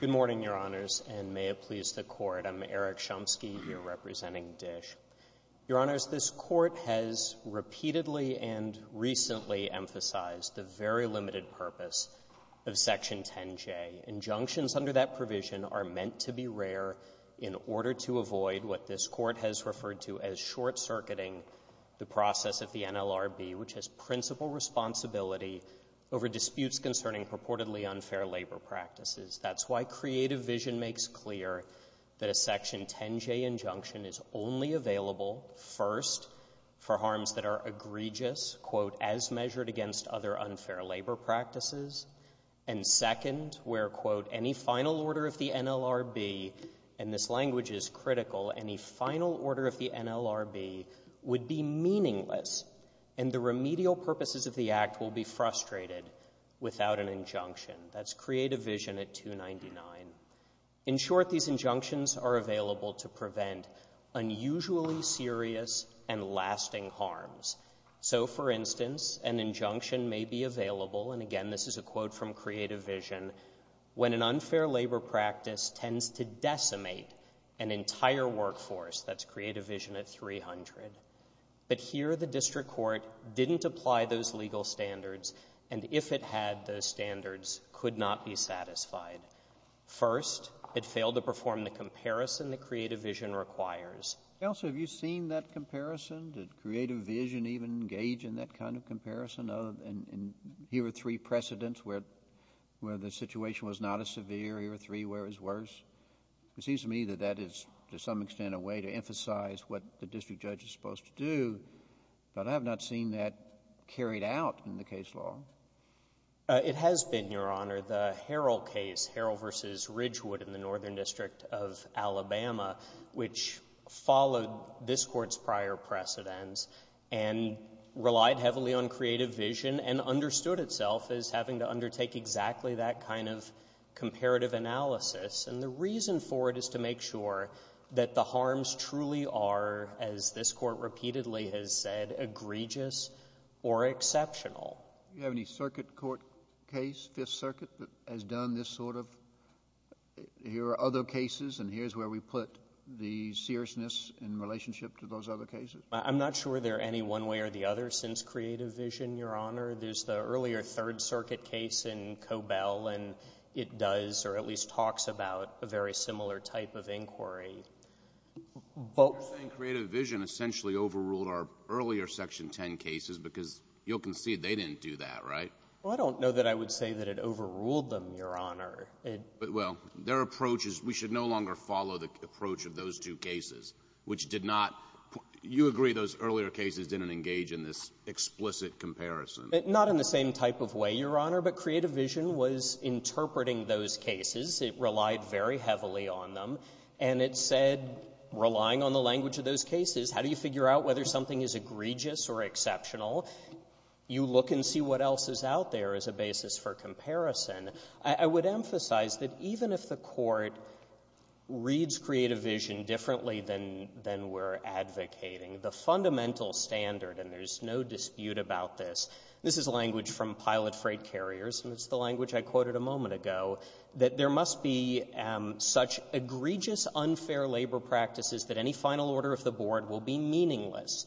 Good morning, Your Honors, and may it please the Court. I'm Eric Shumsky, here representing Dish. Your Honors, this Court has repeatedly and recently emphasized the very limited purpose of Section 10J. Injunctions under that provision are meant to be rare in order to avoid what process of the NLRB, which has principal responsibility over disputes concerning purportedly unfair labor practices. That's why Creative Vision makes clear that a Section 10J injunction is only available, first, for harms that are egregious, quote, as measured against other unfair labor practices, and second, where, quote, any final order of the NLRB, and this be meaningless, and the remedial purposes of the Act will be frustrated without an injunction. That's Creative Vision at 299. In short, these injunctions are available to prevent unusually serious and lasting harms. So, for instance, an injunction may be available, and again, this is a quote from Creative Vision, when an unfair labor practice tends to decimate an entire workforce. That's Creative Vision at 300. But here, the District Court didn't apply those legal standards, and if it had those standards, could not be satisfied. First, it failed to perform the comparison that Creative Vision requires. Counsel, have you seen that comparison? Did Creative Vision even engage in that kind of comparison? Here are three precedents where the situation was not as severe. Here are three where it was worse. It seems to me that that is, to some extent, a way to emphasize what the district judge is supposed to do, but I have not seen that carried out in the case law. It has been, Your Honor. The Harrell case, Harrell v. Ridgewood in the Northern District of Alabama, which followed this Court's prior precedents and relied heavily on Creative Vision and understood itself as having to undertake exactly that kind of comparative analysis. And the reason for it is to make sure that the harms truly are, as this Court repeatedly has said, egregious or exceptional. Do you have any circuit court case, Fifth Circuit, that has done this sort of, here are other cases and here's where we put the seriousness in relationship to those other cases? I'm not sure there are any one way or the other since Creative Vision, Your Honor. There's the earlier Third Circuit case in Cobell, and it does or at least talks about a very similar type of inquiry. You're saying Creative Vision essentially overruled our earlier Section 10 cases because you'll concede they didn't do that, right? Well, I don't know that I would say that it overruled them, Your Honor. Well, their approach is we should no longer follow the approach of those two cases, which did not — you agree those earlier cases didn't engage in this explicit comparison. Not in the same type of way, Your Honor. But Creative Vision was interpreting those cases. It relied very heavily on them. And it said, relying on the language of those cases, how do you figure out whether something is egregious or exceptional? You look and see what else is out there as a basis for comparison. I would emphasize that even if the Court reads Creative Vision differently than we're advocating, the fundamental standard, and there's no dispute about this — this is language from pilot freight carriers, and it's the language I quoted a moment ago — that there must be such egregious, unfair labor practices that any final order of the Board will be meaningless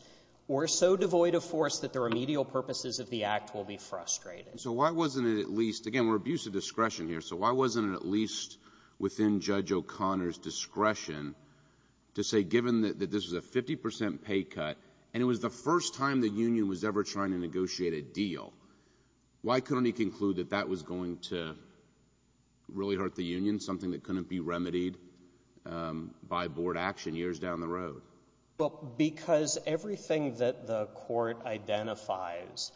or so devoid of force that the remedial purposes of the Act will be frustrating. So why wasn't it at least — again, we're abusing discretion here. So why wasn't it at least within Judge O'Connor's discretion to say, given that this is a 50 percent pay cut, and it was the first time the union was ever trying to negotiate a deal, why couldn't he conclude that that was going to really hurt the union, something that couldn't be remedied by Board action years down the road? Well, because everything that the Court identifies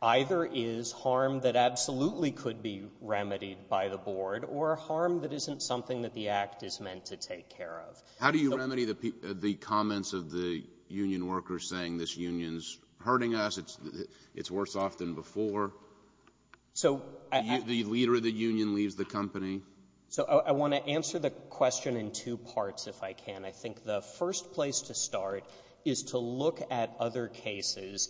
either is harm that absolutely could be remedied by the Board or harm that isn't something that the Act is meant to take care of. How do you remedy the comments of the union workers saying this union's hurting us, it's worse off than before, the leader of the union leaves the company? So I want to answer the question in two parts, if I can. I think the first place to start is to look at other cases.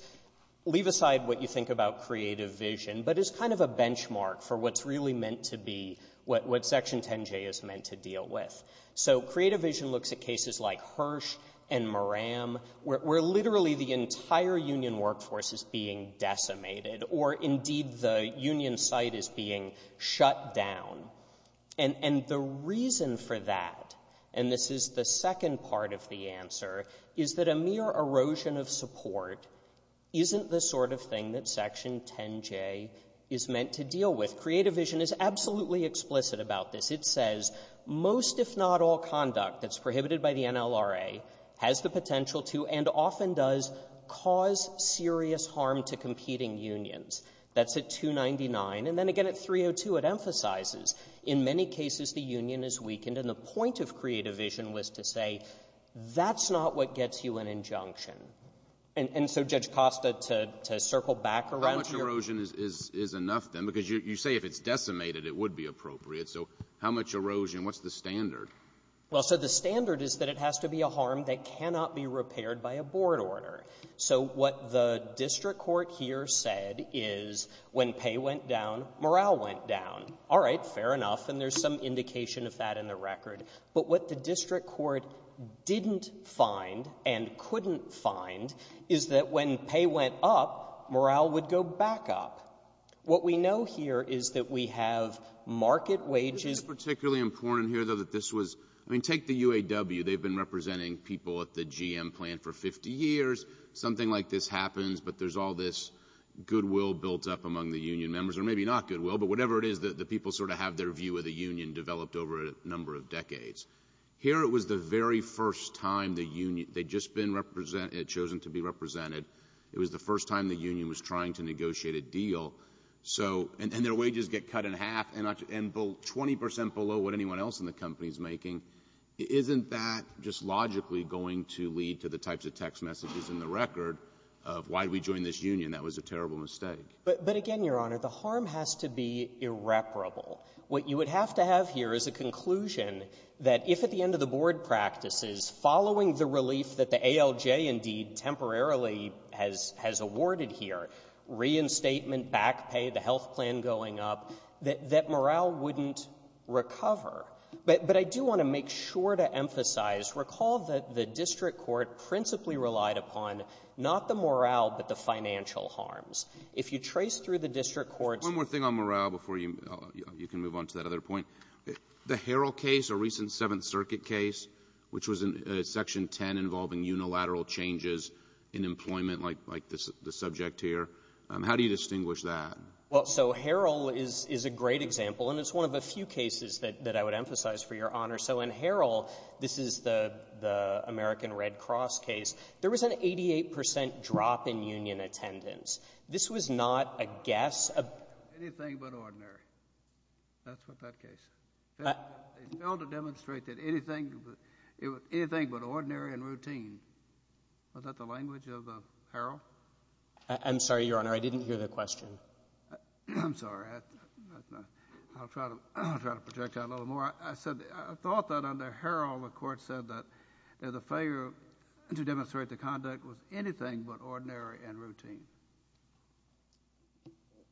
Leave aside what you think about creative vision, but as kind of a benchmark for what's really meant to be — what Section 10J is meant to deal with. So creative vision looks at cases like Hirsch and Moram, where literally the entire union workforce is being decimated, or indeed the union site is being shut down. And the reason for that — and this is the second part of the answer — is that a mere erosion of support isn't the sort of thing that Section 10J is meant to deal with. Creative vision is absolutely explicit about this. It says most, if not all, conduct that's prohibited by the NLRA has the potential to, and often does, cause serious harm to competing unions. That's at 299. And then again at 302, it emphasizes in many cases the union is weakened. And the point of creative vision was to say that's not what gets you an injunction. And so, Judge Costa, to circle back around to your — Alitoso, how much erosion is enough, then? Because you say if it's decimated, it would be appropriate. So how much erosion? What's the standard? Well, so the standard is that it has to be a harm that cannot be repaired by a board order. So what the district court here said is when pay went down, morale went down. All right. Fair enough. And there's some indication of that in the record. But what the district court didn't find and couldn't find is that when pay went up, morale would go back up. What we know here is that we have market wages — Isn't it particularly important here, though, that this was — I mean, take the UAW. They've been representing people at the GM plant for 50 years. Something like this happens, but there's all this goodwill built up among the union members — or maybe not goodwill, but whatever it is that the people sort of have their view of the union developed over a number of decades. Here, it was the very first time the union — they'd just been chosen to be represented. It was the first time the union was trying to negotiate a deal. So — and their wages get cut in half and 20 percent below what anyone else in the company is making. Isn't that just logically going to lead to the types of text messages in the record of, why did we join this union? That was a terrible mistake. But again, Your Honor, the harm has to be irreparable. What you would have to have here is a conclusion that if at the end of the board practices, following the relief that the ALJ, indeed, temporarily has — has awarded here — reinstatement, back pay, the health plan going up — that morale wouldn't recover. But I do want to make sure to emphasize, recall that the district court principally relied upon not the morale, but the financial harms. If you trace through the district court's — One more thing on morale before you can move on to that other point. The Harrell case, a recent Seventh Circuit case, which was in Section 10 involving unilateral changes in employment, like the subject here, how do you distinguish that? Well, so Harrell is a great example, and it's one of a few cases that I would emphasize for Your Honor. So in Harrell, this is the American Red Cross case, there was an 88 percent drop in union attendance. This was not a guess of — Anything but ordinary. That's what that case — failed to demonstrate that anything — anything but ordinary and routine. Was that the language of Harrell? I'm sorry, Your Honor. I didn't hear the question. I'm sorry. I'll try to project that a little more. I said — I thought that under Harrell, the court said that the failure to demonstrate the conduct was anything but ordinary and routine.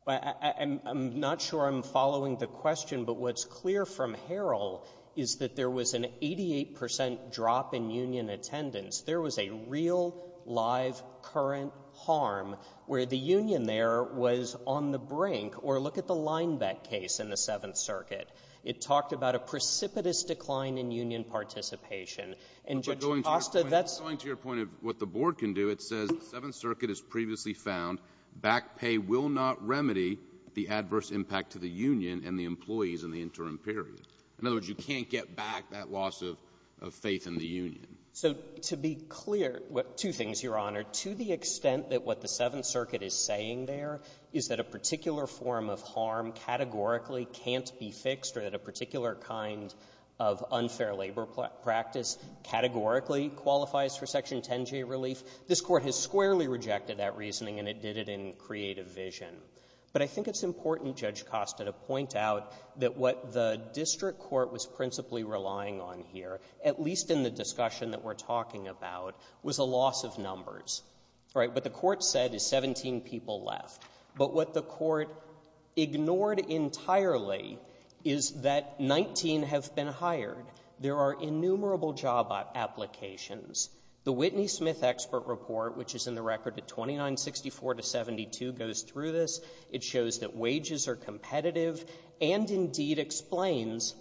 I'm not sure I'm following the question, but what's clear from Harrell is that there was an 88 percent drop in union attendance. There was a real, live, current harm where the union there was on the brink. Or look at the Lineback case in the Seventh Circuit. It talked about a precipitous decline in union participation. And Judge Costa, that's — But going to your point of what the Board can do, it says the Seventh Circuit has previously found back pay will not remedy the adverse impact to the union and the employees in the interim period. In other words, you can't get back that loss of — of faith in the union. So to be clear — two things, Your Honor. To the extent that what the Seventh Circuit is saying there is that a particular form of harm categorically can't be fixed or that a particular kind of unfair labor practice categorically qualifies for Section 10j relief, this Court has squarely rejected that reasoning, and it did it in creative vision. But I think it's important, Judge Costa, to point out that what the district court was principally relying on here, at least in the discussion that we're talking about, was a loss of numbers, right? What the court said is 17 people left. But what the court ignored entirely is that 19 have been hired. There are innumerable job applications. The Whitney-Smith expert report, which is in the record at 2964 to 72, goes through this. It shows that wages are competitive and, indeed, explains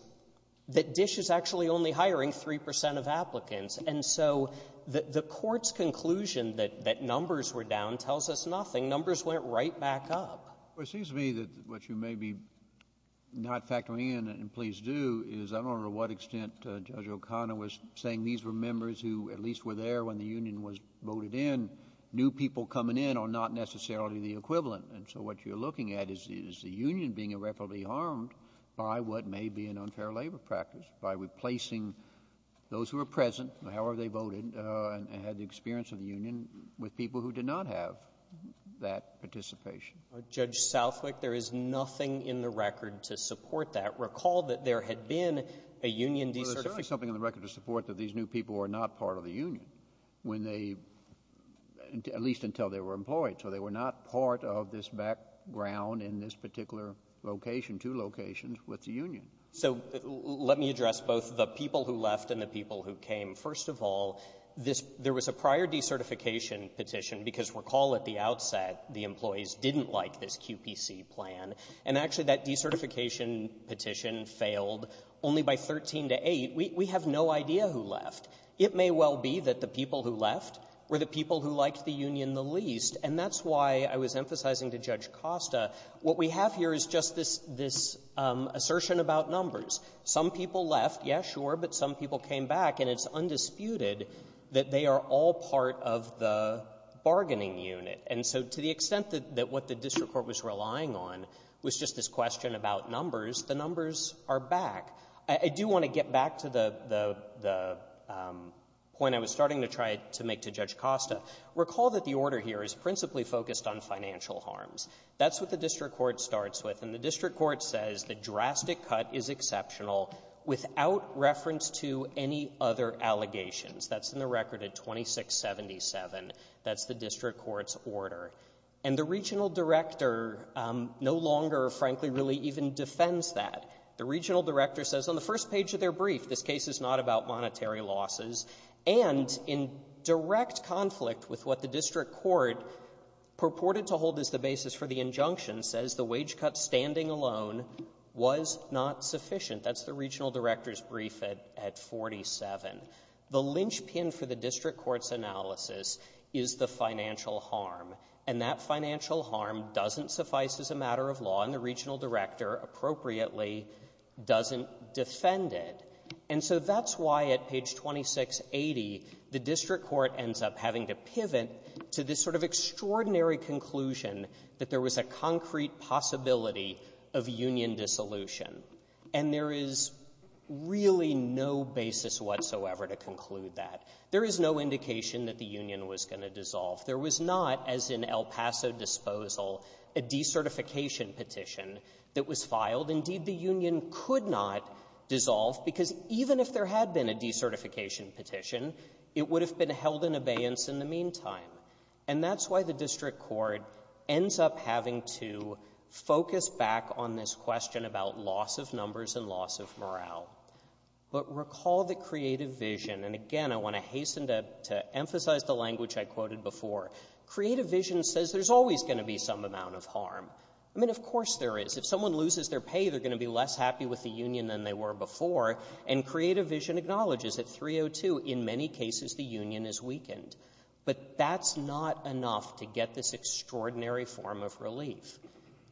that DISH is actually only hiring 3 percent of applicants. And so the — the court's conclusion that — that numbers were down tells us nothing. Numbers went right back up. Well, it seems to me that what you may be not factoring in and please do is I don't know to what extent Judge O'Connor was saying these were members who at least were there when the union was voted in. New people coming in are not necessarily the equivalent. And so what you're looking at is the union being irreparably harmed by what may be an unfair labor practice, by replacing those who were present, however they voted, and had the experience of the union with people who did not have that participation. Judge Southwick, there is nothing in the record to support that. Recall that there had been a union de-certification. Well, there's certainly something in the record to support that these new people were not part of the union when they — at least until they were employed. So they were not part of this background in this particular location, two locations with the union. So let me address both the people who left and the people who came. First of all, this — there was a prior de-certification petition, because recall at the outset the employees didn't like this QPC plan. And actually, that de-certification petition failed only by 13 to 8. We have no idea who left. It may well be that the people who left were the people who liked the union the least. And that's why I was emphasizing to Judge Costa, what we have here is just this — this assertion about numbers. Some people left, yes, sure, but some people came back. And it's undisputed that they are all part of the bargaining unit. And so to the extent that what the district court was relying on was just this question about numbers, the numbers are back. I do want to get back to the — the point I was starting to try to make to Judge Costa. Recall that the order here is principally focused on financial harms. That's what the district court starts with. And the district court says the drastic cut is exceptional without reference to any other allegations. That's in the record at 2677. That's the district court's order. And the regional director no longer, frankly, really even defends that. The regional director says on the first page of their brief, this case is not about monetary losses, and in direct conflict with what the district court purported to hold as the basis for the injunction, says the wage cut standing alone was not sufficient. That's the regional director's brief at 47. The linchpin for the district court's analysis is the financial harm. And that financial harm doesn't suffice as a matter of law. And the regional director, appropriately, doesn't defend it. And so that's why at page 2680, the district court ends up having to pivot to this sort of extraordinary conclusion that there was a concrete possibility of union dissolution. And there is really no basis whatsoever to conclude that. There is no indication that the union was going to dissolve. There was not, as in El Paso disposal, a decertification petition that was filed. Indeed, the union could not dissolve, because even if there had been a decertification petition, it would have been held in abeyance in the meantime. And that's why the district court ends up having to focus back on this question about loss of numbers and loss of morale. But recall the creative vision. And, again, I want to hasten to emphasize the language I quoted before. Creative vision says there's always going to be some amount of harm. I mean, of course there is. If someone loses their pay, they're going to be less happy with the union than they were before. And creative vision acknowledges that 302, in many cases, the union is weakened. But that's not enough to get this extraordinary form of relief.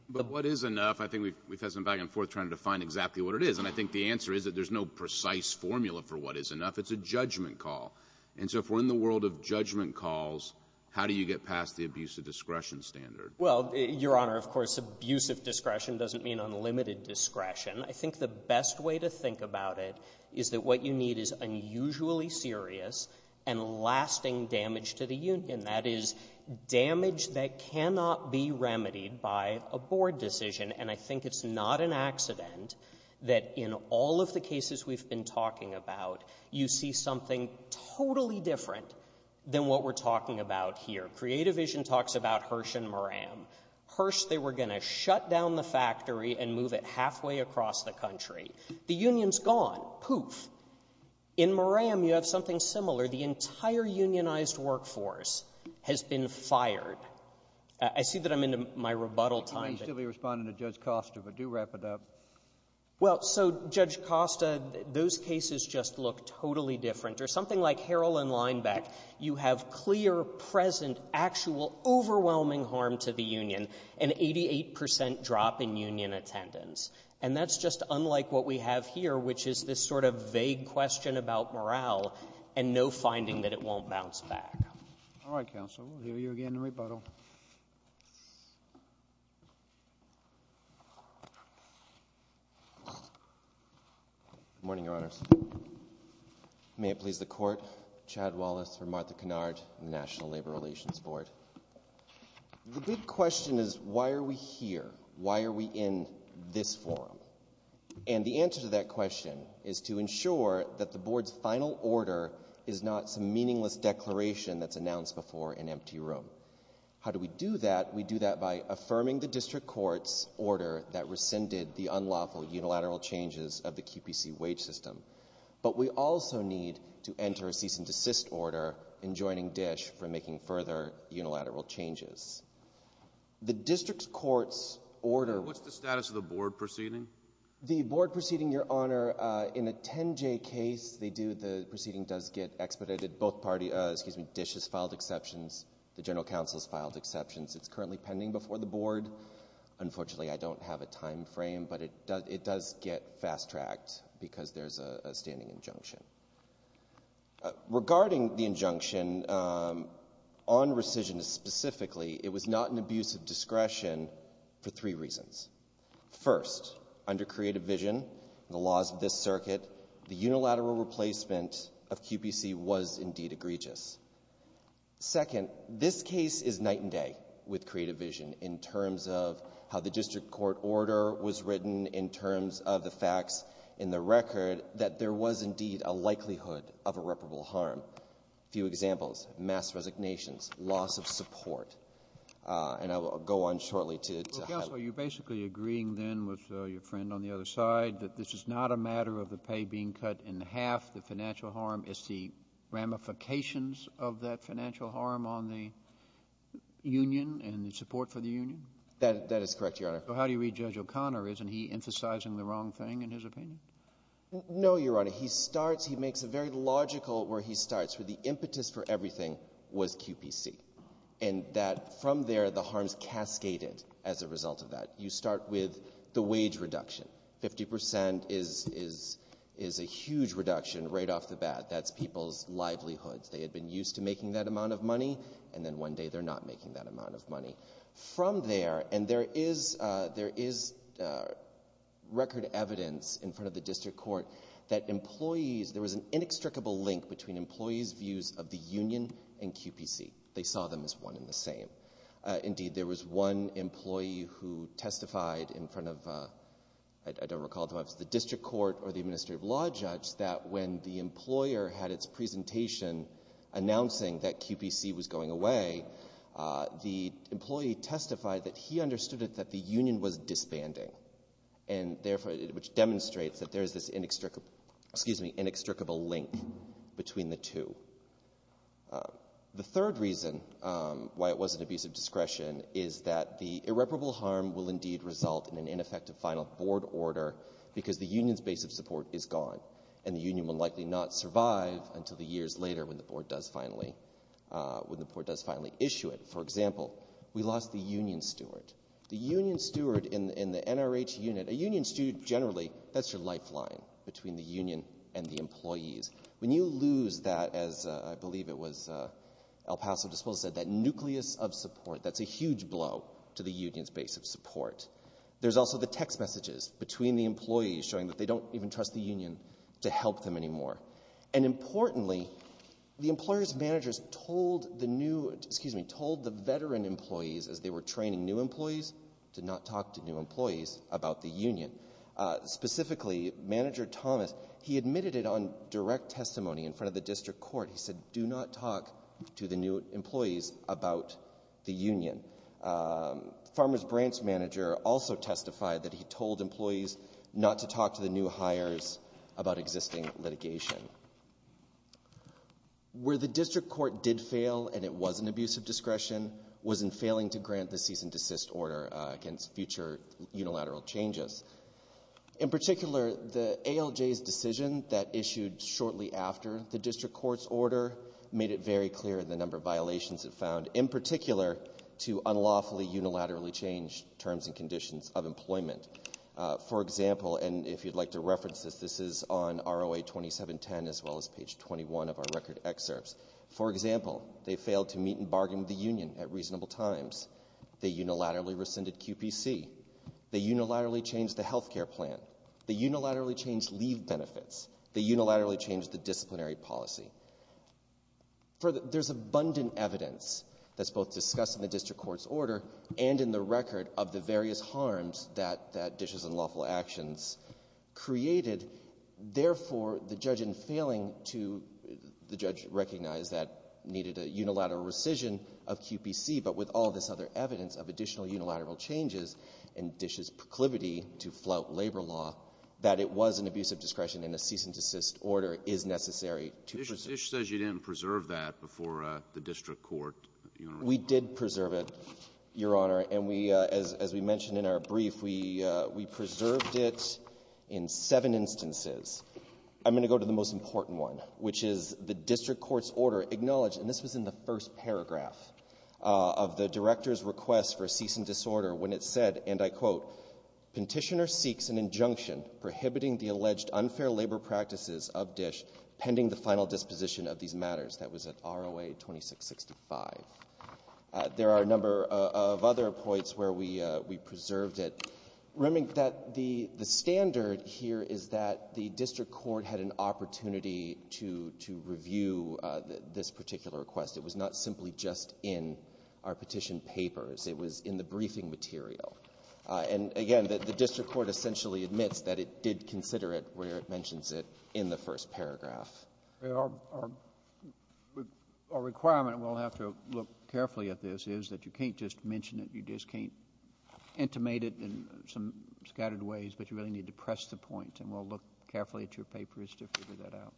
But what is enough? I think we've had some back and forth trying to define exactly what it is. And I think the answer is that there's no precise formula for what is enough. It's a judgment call. And so if we're in the world of judgment calls, how do you get past the abuse of discretion standard? Well, Your Honor, of course, abuse of discretion doesn't mean unlimited discretion. I think the best way to think about it is that what you need is unusually serious and lasting damage to the union. That is, damage that cannot be remedied by a board decision. And I think it's not an accident that in all of the cases we've been talking about, you see something totally different than what we're talking about here. Creative vision talks about Hirsch and Moran. Hirsch, they were going to shut down the factory and move it halfway across the country. The union's gone. Poof. In Moran, you have something similar. The entire unionized workforce has been fired. I see that I'm in my rebuttal time. You may still be responding to Judge Costa, but do wrap it up. Well, so, Judge Costa, those cases just look totally different. Or something like Harrell and Linebeck, you have clear, present, actual, overwhelming harm to the union, an 88 percent drop in union attendance. And that's just unlike what we have here, which is this sort of vague question about morale and no finding that it won't bounce back. All right, counsel. We'll hear you again in rebuttal. Good morning, Your Honors. May it please the court, Chad Wallace for Martha Kennard, National Labor Relations Board. The big question is, why are we here? Why are we in this forum? And the answer to that question is to ensure that the board's final order is not some meaningless declaration that's announced before an empty room. How do we do that? We do that by affirming the district court's order that rescinded the unlawful unilateral changes of the QPC wage system. But we also need to enter a cease and desist order in joining DISH for making further unilateral changes. The district court's order— What's the status of the board proceeding? The board proceeding, Your Honor, in a 10-J case, they do—the proceeding does get expedited. Both parties—excuse me, DISH has filed exceptions. The general counsel has filed exceptions. It's currently pending before the board. Unfortunately, I don't have a time frame, but it does get fast-tracked because there's a standing injunction. Regarding the injunction on rescission specifically, it was not an abuse of discretion for three reasons. First, under creative vision and the laws of this circuit, the unilateral replacement of QPC was indeed egregious. Second, this case is night and day with creative vision in terms of how the district court order was written, in terms of the facts in the record that there was indeed a likelihood of irreparable harm. A few examples, mass resignations, loss of support. And I will go on shortly to highlight— Well, counsel, are you basically agreeing then with your friend on the other side that this is not a matter of the pay being cut in half, the financial harm? It's the ramifications of that financial harm on the union and the support for the union? That is correct, Your Honor. So how do you read Judge O'Connor? Isn't he emphasizing the wrong thing in his opinion? No, Your Honor. He starts — he makes it very logical where he starts, where the impetus for everything was QPC, and that from there the harms cascaded as a result of that. You start with the wage reduction. Fifty percent is a huge reduction right off the bat. That's people's livelihoods. They had been used to making that amount of money, and then one day they're not making that amount of money. From there, and there is record evidence in front of the district court that employees — there was an inextricable link between employees' views of the union and QPC. They saw them as one and the same. Indeed, there was one employee who testified in front of — I don't recall if it was the district court or the administrative law judge — that when the employer had its presentation announcing that QPC was going away, the employee testified that he understood it that the union was disbanding, which demonstrates that there is this inextricable link between the two. The third reason why it was an abuse of discretion is that the irreparable harm will indeed result in an ineffective final board order because the union's base of support is gone, and the union will likely not survive until the years later when the board does finally issue it. For example, we lost the union steward. The union steward in the NRH unit — a union steward, generally, that's your lifeline between the union and the employees. When you lose that, as I believe it was El Paso Despoja said, that nucleus of support, that's a huge blow to the union's base of support. There's also the text messages between the employees showing that they don't even trust the union to help them anymore. And importantly, the employers' managers told the veteran employees as they were training specifically, Manager Thomas, he admitted it on direct testimony in front of the district court. He said, do not talk to the new employees about the union. Farmer's branch manager also testified that he told employees not to talk to the new hires about existing litigation. Where the district court did fail, and it was an abuse of discretion, was in failing to grant the cease and desist order against future unilateral changes. In particular, the ALJ's decision that issued shortly after the district court's order made it very clear the number of violations it found, in particular, to unlawfully unilaterally change terms and conditions of employment. For example, and if you'd like to reference this, this is on ROA 2710 as well as page 21 of our record excerpts. For example, they failed to meet and bargain with the union at reasonable times. They unilaterally rescinded QPC. They unilaterally changed the health care plan. They unilaterally changed leave benefits. They unilaterally changed the disciplinary policy. There's abundant evidence that's both discussed in the district court's order and in the record of the various harms that dishes and lawful actions created. Therefore, the judge in failing to the judge recognized that needed a unilateral rescission of QPC, but with all this other evidence of additional unilateral changes in Dish's proclivity to flout labor law, that it was an abuse of discretion and a cease and desist order is necessary to proceed. Dish says you didn't preserve that before the district court. We did preserve it, Your Honor. And we, as we mentioned in our brief, we preserved it in seven instances. I'm going to go to the most important one, which is the district court's order acknowledged, and this was in the first paragraph of the director's request for a cease and disorder when it said, and I quote, Petitioner seeks an injunction prohibiting the alleged unfair labor practices of Dish pending the final disposition of these matters. That was at ROA 2665. There are a number of other points where we preserved it. Remember that the standard here is that the district court had an opportunity to review this particular request. It was not simply just in our petition papers. It was in the briefing material. And again, the district court essentially admits that it did consider it where it mentions it in the first paragraph. Our requirement, and we'll have to look carefully at this, is that you can't just mention it. You just can't intimate it in some scattered ways, but you really need to press the point. And we'll look carefully at your papers to figure that out.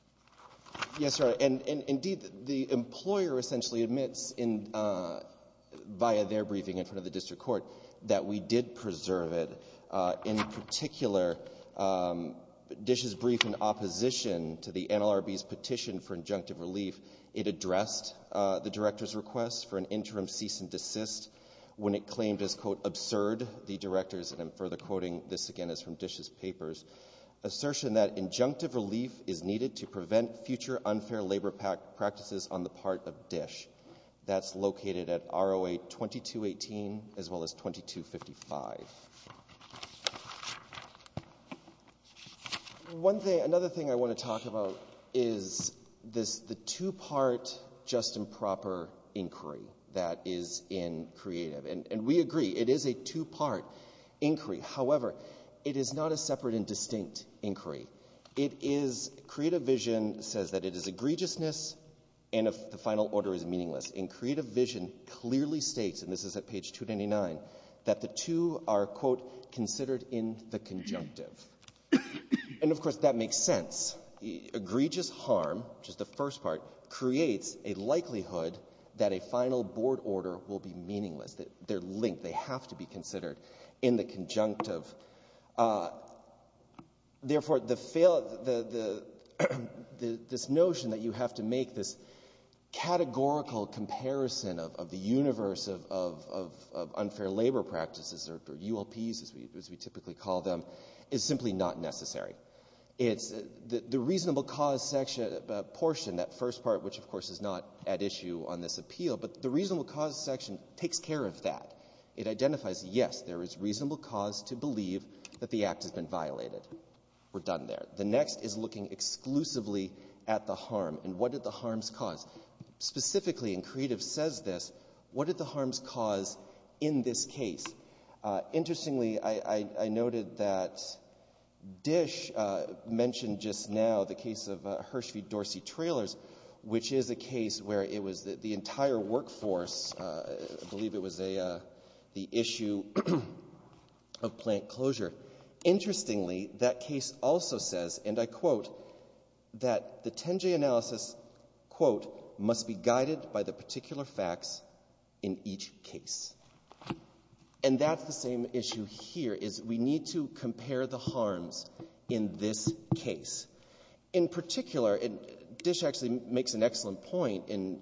Yes, Your Honor. Indeed, the employer essentially admits via their briefing in front of the district court that we did preserve it. In particular, Dish's brief in opposition to the NLRB's petition for injunctive relief, it addressed the director's request for an interim cease and desist when it claimed as, quote, absurd, the director's, and I'm further quoting, this again is from Dish's papers, assertion that injunctive relief is needed to prevent future unfair labor practices on the part of Dish. That's located at ROA 2218 as well as 2255. One thing, another thing I want to talk about is this, the two-part just and proper inquiry that is in Creative. And we agree, it is a two-part inquiry. However, it is not a separate and distinct inquiry. It is, Creative Vision says that it is egregiousness, and the final order is meaningless. And Creative Vision clearly states, and this is at page 299, that the two are, quote, considered in the conjunctive. And, of course, that makes sense. Egregious harm, which is the first part, creates a likelihood that a final board order will be meaningless. They're linked. They have to be considered in the conjunctive. Therefore, this notion that you have to make this categorical comparison of the universe of unfair labor practices or ULPs, as we typically call them, is simply not necessary. The reasonable cause portion, that first part, which, of course, is not at issue on this appeal, but the reasonable cause section takes care of that. It identifies, yes, there is reasonable cause to believe that the act has been violated. We're done there. The next is looking exclusively at the harm, and what did the harms cause. Specifically, and Creative says this, what did the harms cause in this case? Interestingly, I noted that Dish mentioned just now the case of Hershvie-Dorsey Trailers, which is a case where it was the entire workforce, I believe it was the issue of plant closure. Interestingly, that case also says, and I quote, that the 10-J analysis, quote, must be guided by the particular facts in each case. And that's the same issue here, is we need to compare the harms in this case. In particular, and Dish actually makes an excellent point in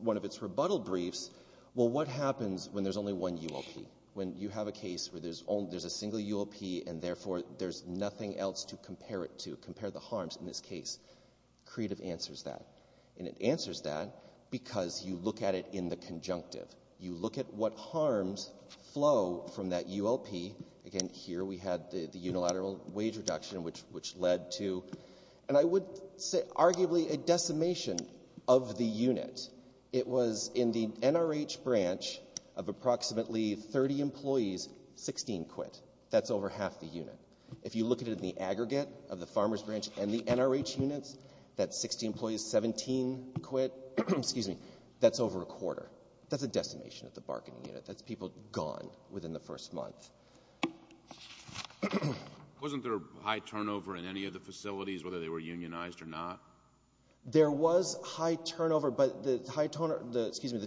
one of its rebuttal briefs, well, what happens when there's only one UOP? When you have a case where there's a single UOP and therefore there's nothing else to compare it to, compare the harms in this case? Creative answers that, and it answers that because you look at it in the conjunctive. You look at what harms flow from that UOP. Again, here we had the unilateral wage reduction, which led to, and I would say, arguably, a decimation of the unit. It was in the NRH branch of approximately 30 employees, 16 quit. That's over half the unit. If you look at it in the aggregate of the farmers branch and the NRH units, that's 60 employees, 17 quit. That's over a quarter. That's a decimation of the bargaining unit. That's people gone within the first month. Wasn't there a high turnover in any of the facilities, whether they were unionized or not? There was high turnover, but the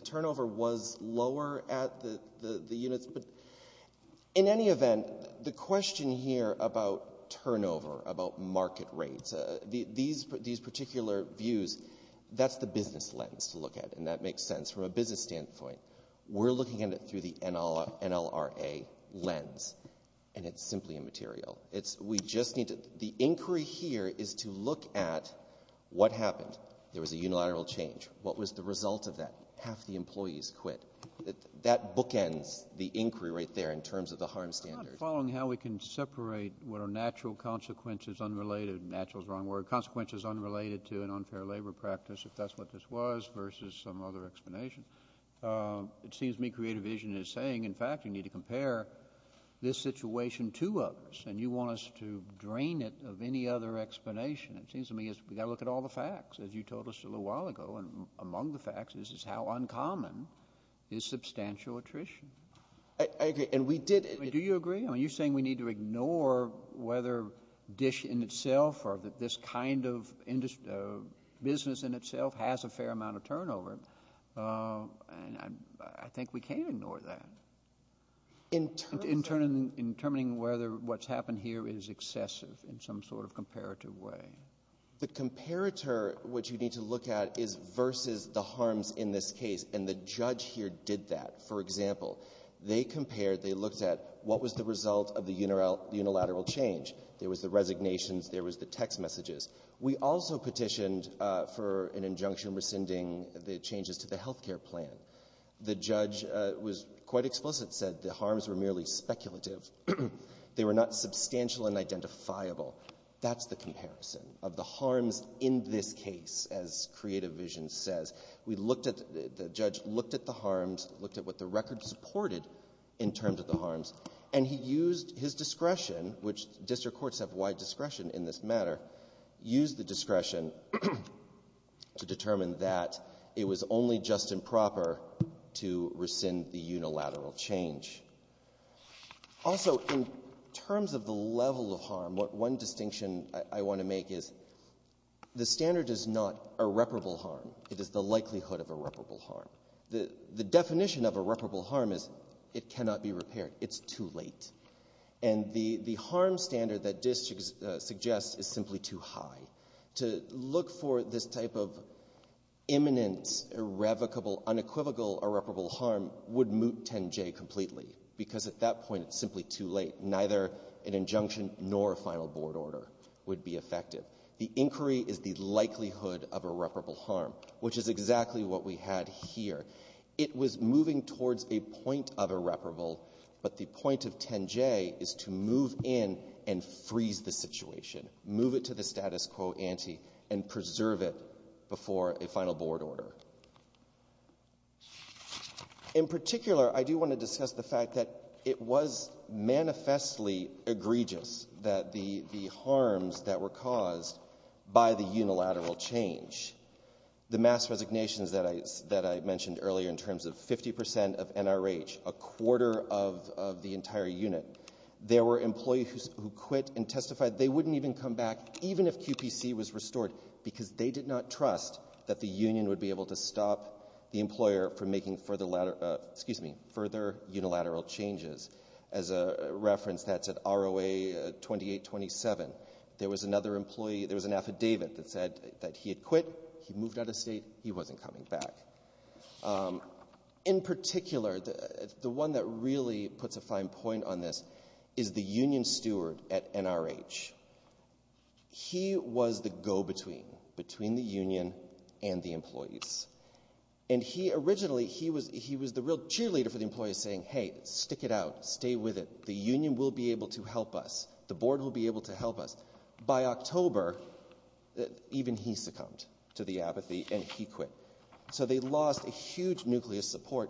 turnover was lower at the units. But in any event, the question here about turnover, about market rates, these particular views, that's the business lens to look at, and that makes sense from a business standpoint. We're looking at it through the NLRA lens, and it's simply immaterial. The inquiry here is to look at what happened. There was a unilateral change. What was the result of that? Half the employees quit. That bookends the inquiry right there in terms of the harm standards. I'm not following how we can separate what are natural consequences unrelated to an unfair labor practice, if that's what this was, versus some other explanation. It seems to me Creative Vision is saying, in fact, you need to compare this situation to others, and you want us to drain it of any other explanation. It seems to me we've got to look at all the facts, as you told us a little while ago, and among the facts is how uncommon is substantial attrition. I agree. Do you agree? You're saying we need to ignore whether DISH in itself or this kind of business in itself has a fair amount of turnover, and I think we can't ignore that. In determining whether what's happened here is excessive in some sort of comparative way. The comparator, what you need to look at, is versus the harms in this case, and the judge here did that. For example, they compared, they looked at what was the result of the unilateral change. There was the resignations. There was the text messages. We also petitioned for an injunction rescinding the changes to the health care plan. The judge was quite explicit, said the harms were merely speculative. They were not substantial and identifiable. That's the comparison of the harms in this case, as creative vision says. We looked at, the judge looked at the harms, looked at what the record supported in terms of the harms, and he used his discretion, which district courts have wide discretion in this matter, used the discretion to determine that it was only just and proper to rescind the unilateral change. Also, in terms of the level of harm, one distinction I want to make is the standard is not irreparable harm. It is the likelihood of irreparable harm. The definition of irreparable harm is it cannot be repaired. It's too late. And the harm standard that DIS suggests is simply too high. To look for this type of imminent, irrevocable, unequivocal irreparable harm would moot 10J completely, because at that point it's simply too late. Neither an injunction nor a final board order would be effective. The inquiry is the likelihood of irreparable harm, which is exactly what we had here. It was moving towards a point of irreparable, but the point of 10J is to move in and freeze the situation, move it to the status quo ante, and preserve it before a final board order. In particular, I do want to discuss the fact that it was manifestly egregious that the harms that were caused by the unilateral change, the mass resignations that I mentioned earlier in terms of 50% of NRH, a quarter of the entire unit, there were employees who quit and testified they wouldn't even come back, even if QPC was restored, because they did not trust that the union would be able to stop the employer from making further unilateral changes. As a reference, that's at ROA 2827. There was an affidavit that said that he had quit, he moved out of state, he wasn't coming back. In particular, the one that really puts a fine point on this is the union steward at NRH. He was the go-between between the union and the employees. Originally, he was the real cheerleader for the employees saying, hey, stick it out, stay with it, the union will be able to help us, the board will be able to help us. By October, even he succumbed to the apathy and he quit. So they lost a huge nucleus of support.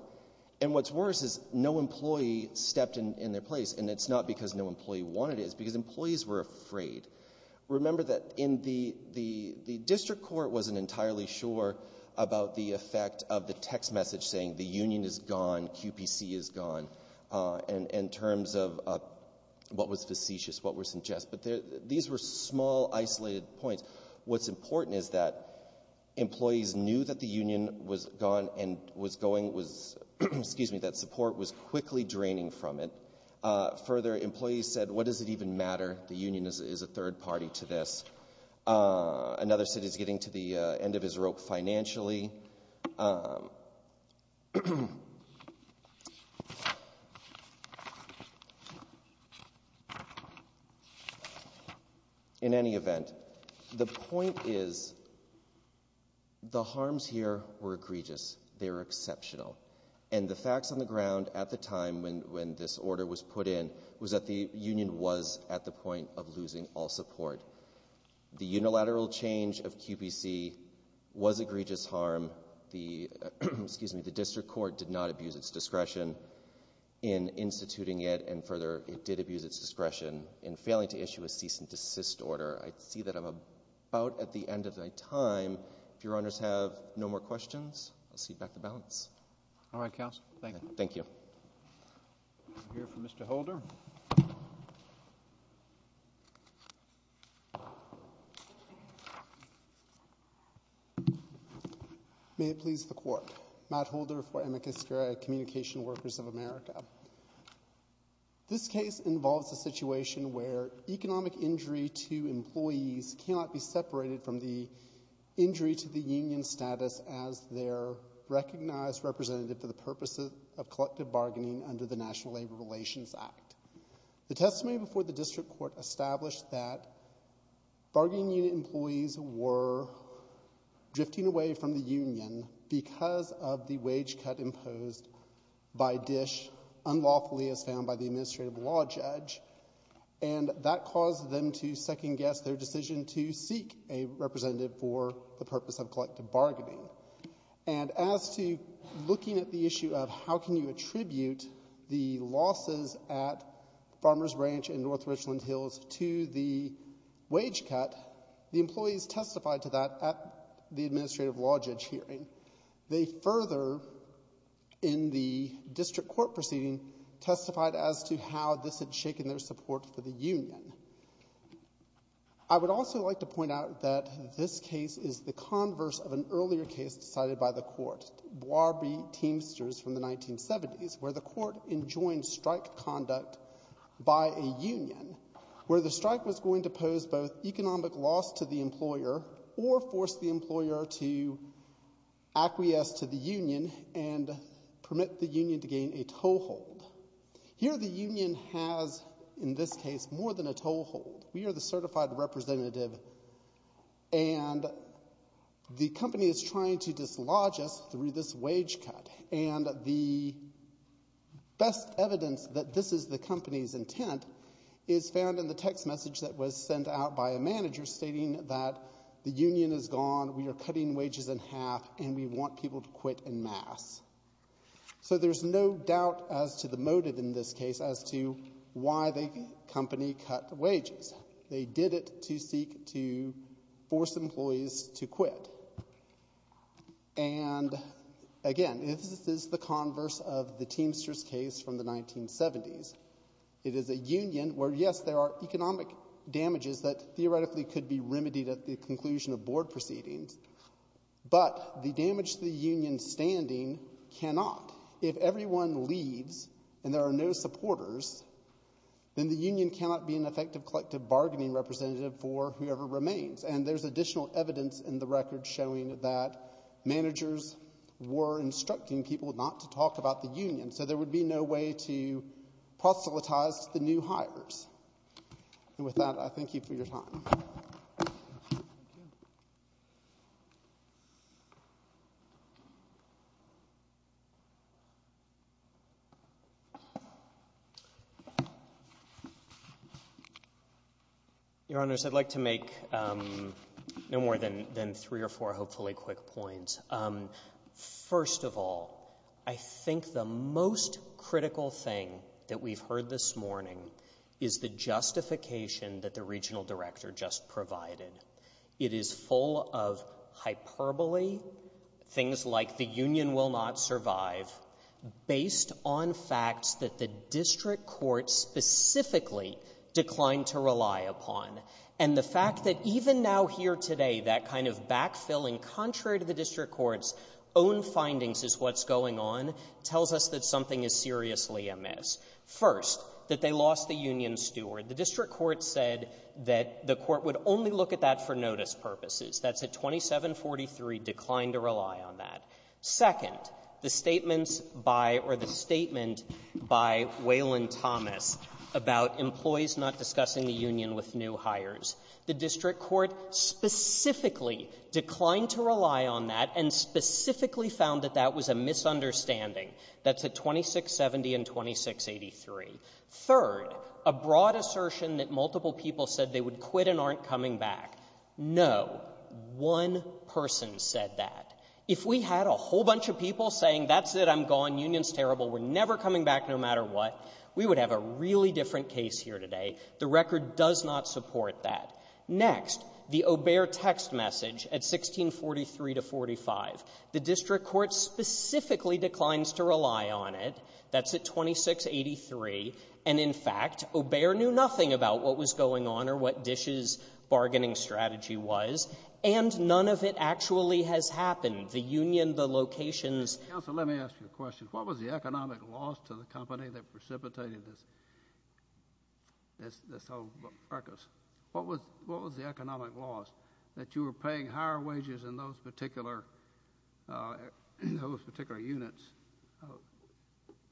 And what's worse is no employee stepped in their place, and it's not because no employee wanted it, it's because employees were afraid. Remember that the district court wasn't entirely sure about the effect of the text message saying, the union is gone, QPC is gone, in terms of what was facetious, what was suggestive. These were small, isolated points. What's important is that employees knew that the union was gone and that support was quickly draining from it. Further, employees said, what does it even matter? The union is a third party to this. Another said he's getting to the end of his rope financially. In any event, the point is, the harms here were egregious. They were exceptional. And the facts on the ground at the time when this order was put in was that the union was at the point of losing all support. The unilateral change of QPC was egregious harm. The district court did not abuse its discretion in instituting it. And further, it did abuse its discretion in failing to issue a cease and desist order. I see that I'm about at the end of my time. If your honors have no more questions, I'll cede back the balance. All right, counsel. Thank you. Thank you. We'll hear from Mr. Holder. May it please the Court. Matt Holder for Amicus Geri, Communication Workers of America. This case involves a situation where economic injury to employees cannot be separated from the injury to the union status as their recognized representative for the purposes of collective bargaining under the National Labor Relations Act. The testimony before the district court established that bargaining unit employees were drifting away from the union because of the wage cut imposed by DISH unlawfully as found by the administrative law judge. And that caused them to second-guess their decision to seek a representative for the purpose of collective bargaining. And as to looking at the issue of how can you attribute the losses at Farmers Ranch and North Richland Hills to the wage cut, the employees testified to that at the administrative law judge hearing. They further, in the district court proceeding, testified as to how this had shaken their support for the union. I would also like to point out that this case is the converse of an earlier case decided by the court, Warby Teamsters from the 1970s, where the court enjoined strike conduct by a union where the strike was going to pose both economic loss to the employer or force the employer to acquiesce to the union and permit the union to gain a toehold. Here the union has, in this case, more than a toehold. We are the certified representative and the company is trying to dislodge us through this wage cut. And the best evidence that this is the company's intent is found in the text message that was sent out by a manager stating that the union is gone, we are cutting wages in half, and we want people to quit en masse. So there's no doubt as to the motive in this case as to why the company cut wages. They did it to seek to force employees to quit. And, again, this is the converse of the Teamsters case from the 1970s. It is a union where, yes, there are economic damages that theoretically could be remedied at the conclusion of board proceedings, but the damage to the union's standing cannot. If everyone leaves and there are no supporters, then the union cannot be an effective collective bargaining representative for whoever remains. And there's additional evidence in the record showing that managers were instructing people not to talk about the union, so there would be no way to proselytize the new hires. And with that, I thank you for your time. Your Honors, I'd like to make no more than three or four hopefully quick points. First of all, I think the most critical thing that we've heard this morning is the justification that the regional director just provided. It is full of hyperbole, things like the union will not survive, based on facts that the district court specifically declined to rely upon. And the fact that even now here today, that kind of backfilling, contrary to the district court's own findings as to what's going on, First, that they lost the union steward. The district court said that the court would only look at that for notice purposes. That's at 2743, declined to rely on that. Second, the statements by or the statement by Waylon Thomas about employees not discussing the union with new hires. The district court specifically declined to rely on that and specifically found that that was a misunderstanding. That's at 2670 and 2683. Third, a broad assertion that multiple people said they would quit and aren't coming back. No, one person said that. If we had a whole bunch of people saying, that's it, I'm gone, union's terrible, we're never coming back no matter what, we would have a really different case here today. The record does not support that. Next, the Obear text message at 1643 to 45. The district court specifically declines to rely on it. That's at 2683. And, in fact, Obear knew nothing about what was going on or what Dish's bargaining strategy was. And none of it actually has happened. The union, the locations. Counsel, let me ask you a question. What was the economic loss to the company that precipitated this whole ruckus? What was the economic loss? That you were paying higher wages in those particular units,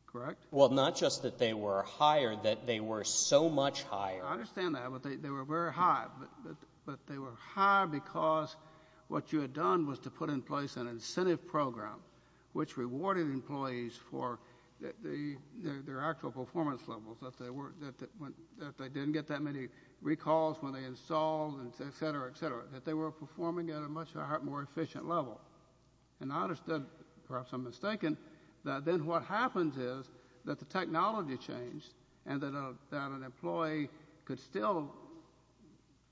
correct? Well, not just that they were higher, that they were so much higher. I understand that, but they were very high. But they were high because what you had done was to put in place an incentive program, which rewarded employees for their actual performance levels, that they didn't get that many recalls when they installed, et cetera, et cetera, that they were performing at a much more efficient level. And I understood, perhaps I'm mistaken, that then what happens is that the technology changed and that an employee could still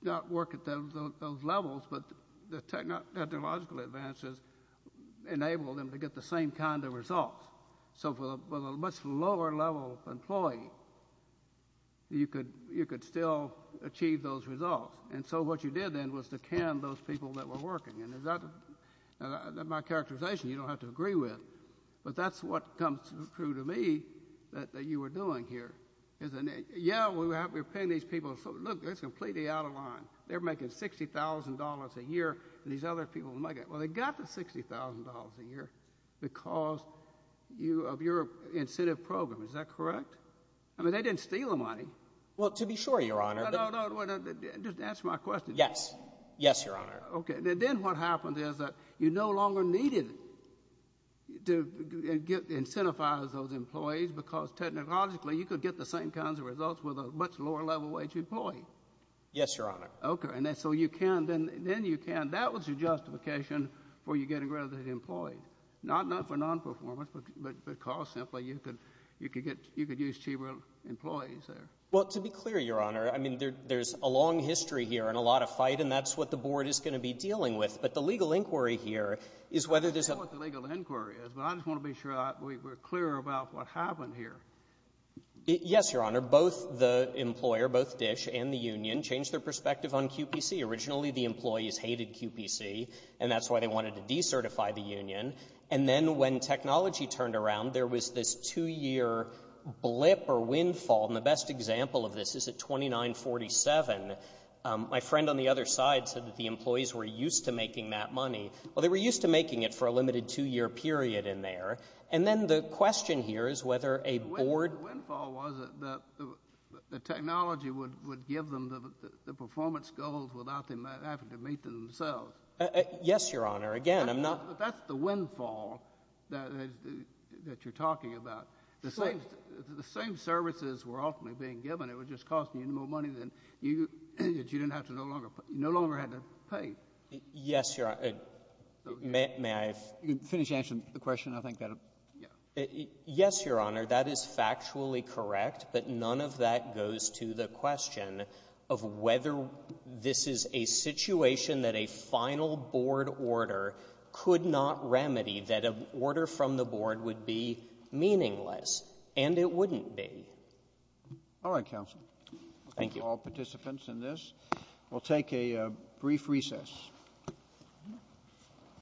not work at those levels, but the technological advances enabled them to get the same kind of results. So for a much lower level employee, you could still achieve those results. And so what you did then was to can those people that were working. And my characterization, you don't have to agree with, but that's what comes true to me that you were doing here. Yeah, we were paying these people. Look, it's completely out of line. They're making $60,000 a year and these other people are making it. Well, they got the $60,000 a year because of your incentive program. Is that correct? I mean, they didn't steal the money. Well, to be sure, Your Honor. No, no, no. Just answer my question. Yes. Yes, Your Honor. Okay. Then what happened is that you no longer needed to incentivize those employees because technologically you could get the same kinds of results with a much lower level wage employee. Yes, Your Honor. Okay. And so you can. Then you can. That was your justification for you getting rid of the employees. Not for nonperformance, but cost simply. You could use cheaper employees there. Well, to be clear, Your Honor, I mean, there's a long history here and a lot of fight, and that's what the Board is going to be dealing with. But the legal inquiry here is whether there's a— I don't know what the legal inquiry is, but I just want to be sure we're clear about what happened here. Yes, Your Honor. Both the employer, both DISH and the union, changed their perspective on QPC. Originally, the employees hated QPC, and that's why they wanted to decertify the union. And then when technology turned around, there was this two-year blip or windfall, and the best example of this is at 2947. My friend on the other side said that the employees were used to making that money. Well, they were used to making it for a limited two-year period in there. And then the question here is whether a Board— the performance goals without them having to meet them themselves. Yes, Your Honor. Again, I'm not— That's the windfall that you're talking about. The same services were ultimately being given. It was just costing you more money that you no longer had to pay. Yes, Your Honor. May I finish answering the question? Yes, Your Honor. That is factually correct, but none of that goes to the question of whether this is a situation that a final Board order could not remedy, that an order from the Board would be meaningless, and it wouldn't be. All right, counsel. Thank you. We'll thank all participants in this. We'll take a brief recess.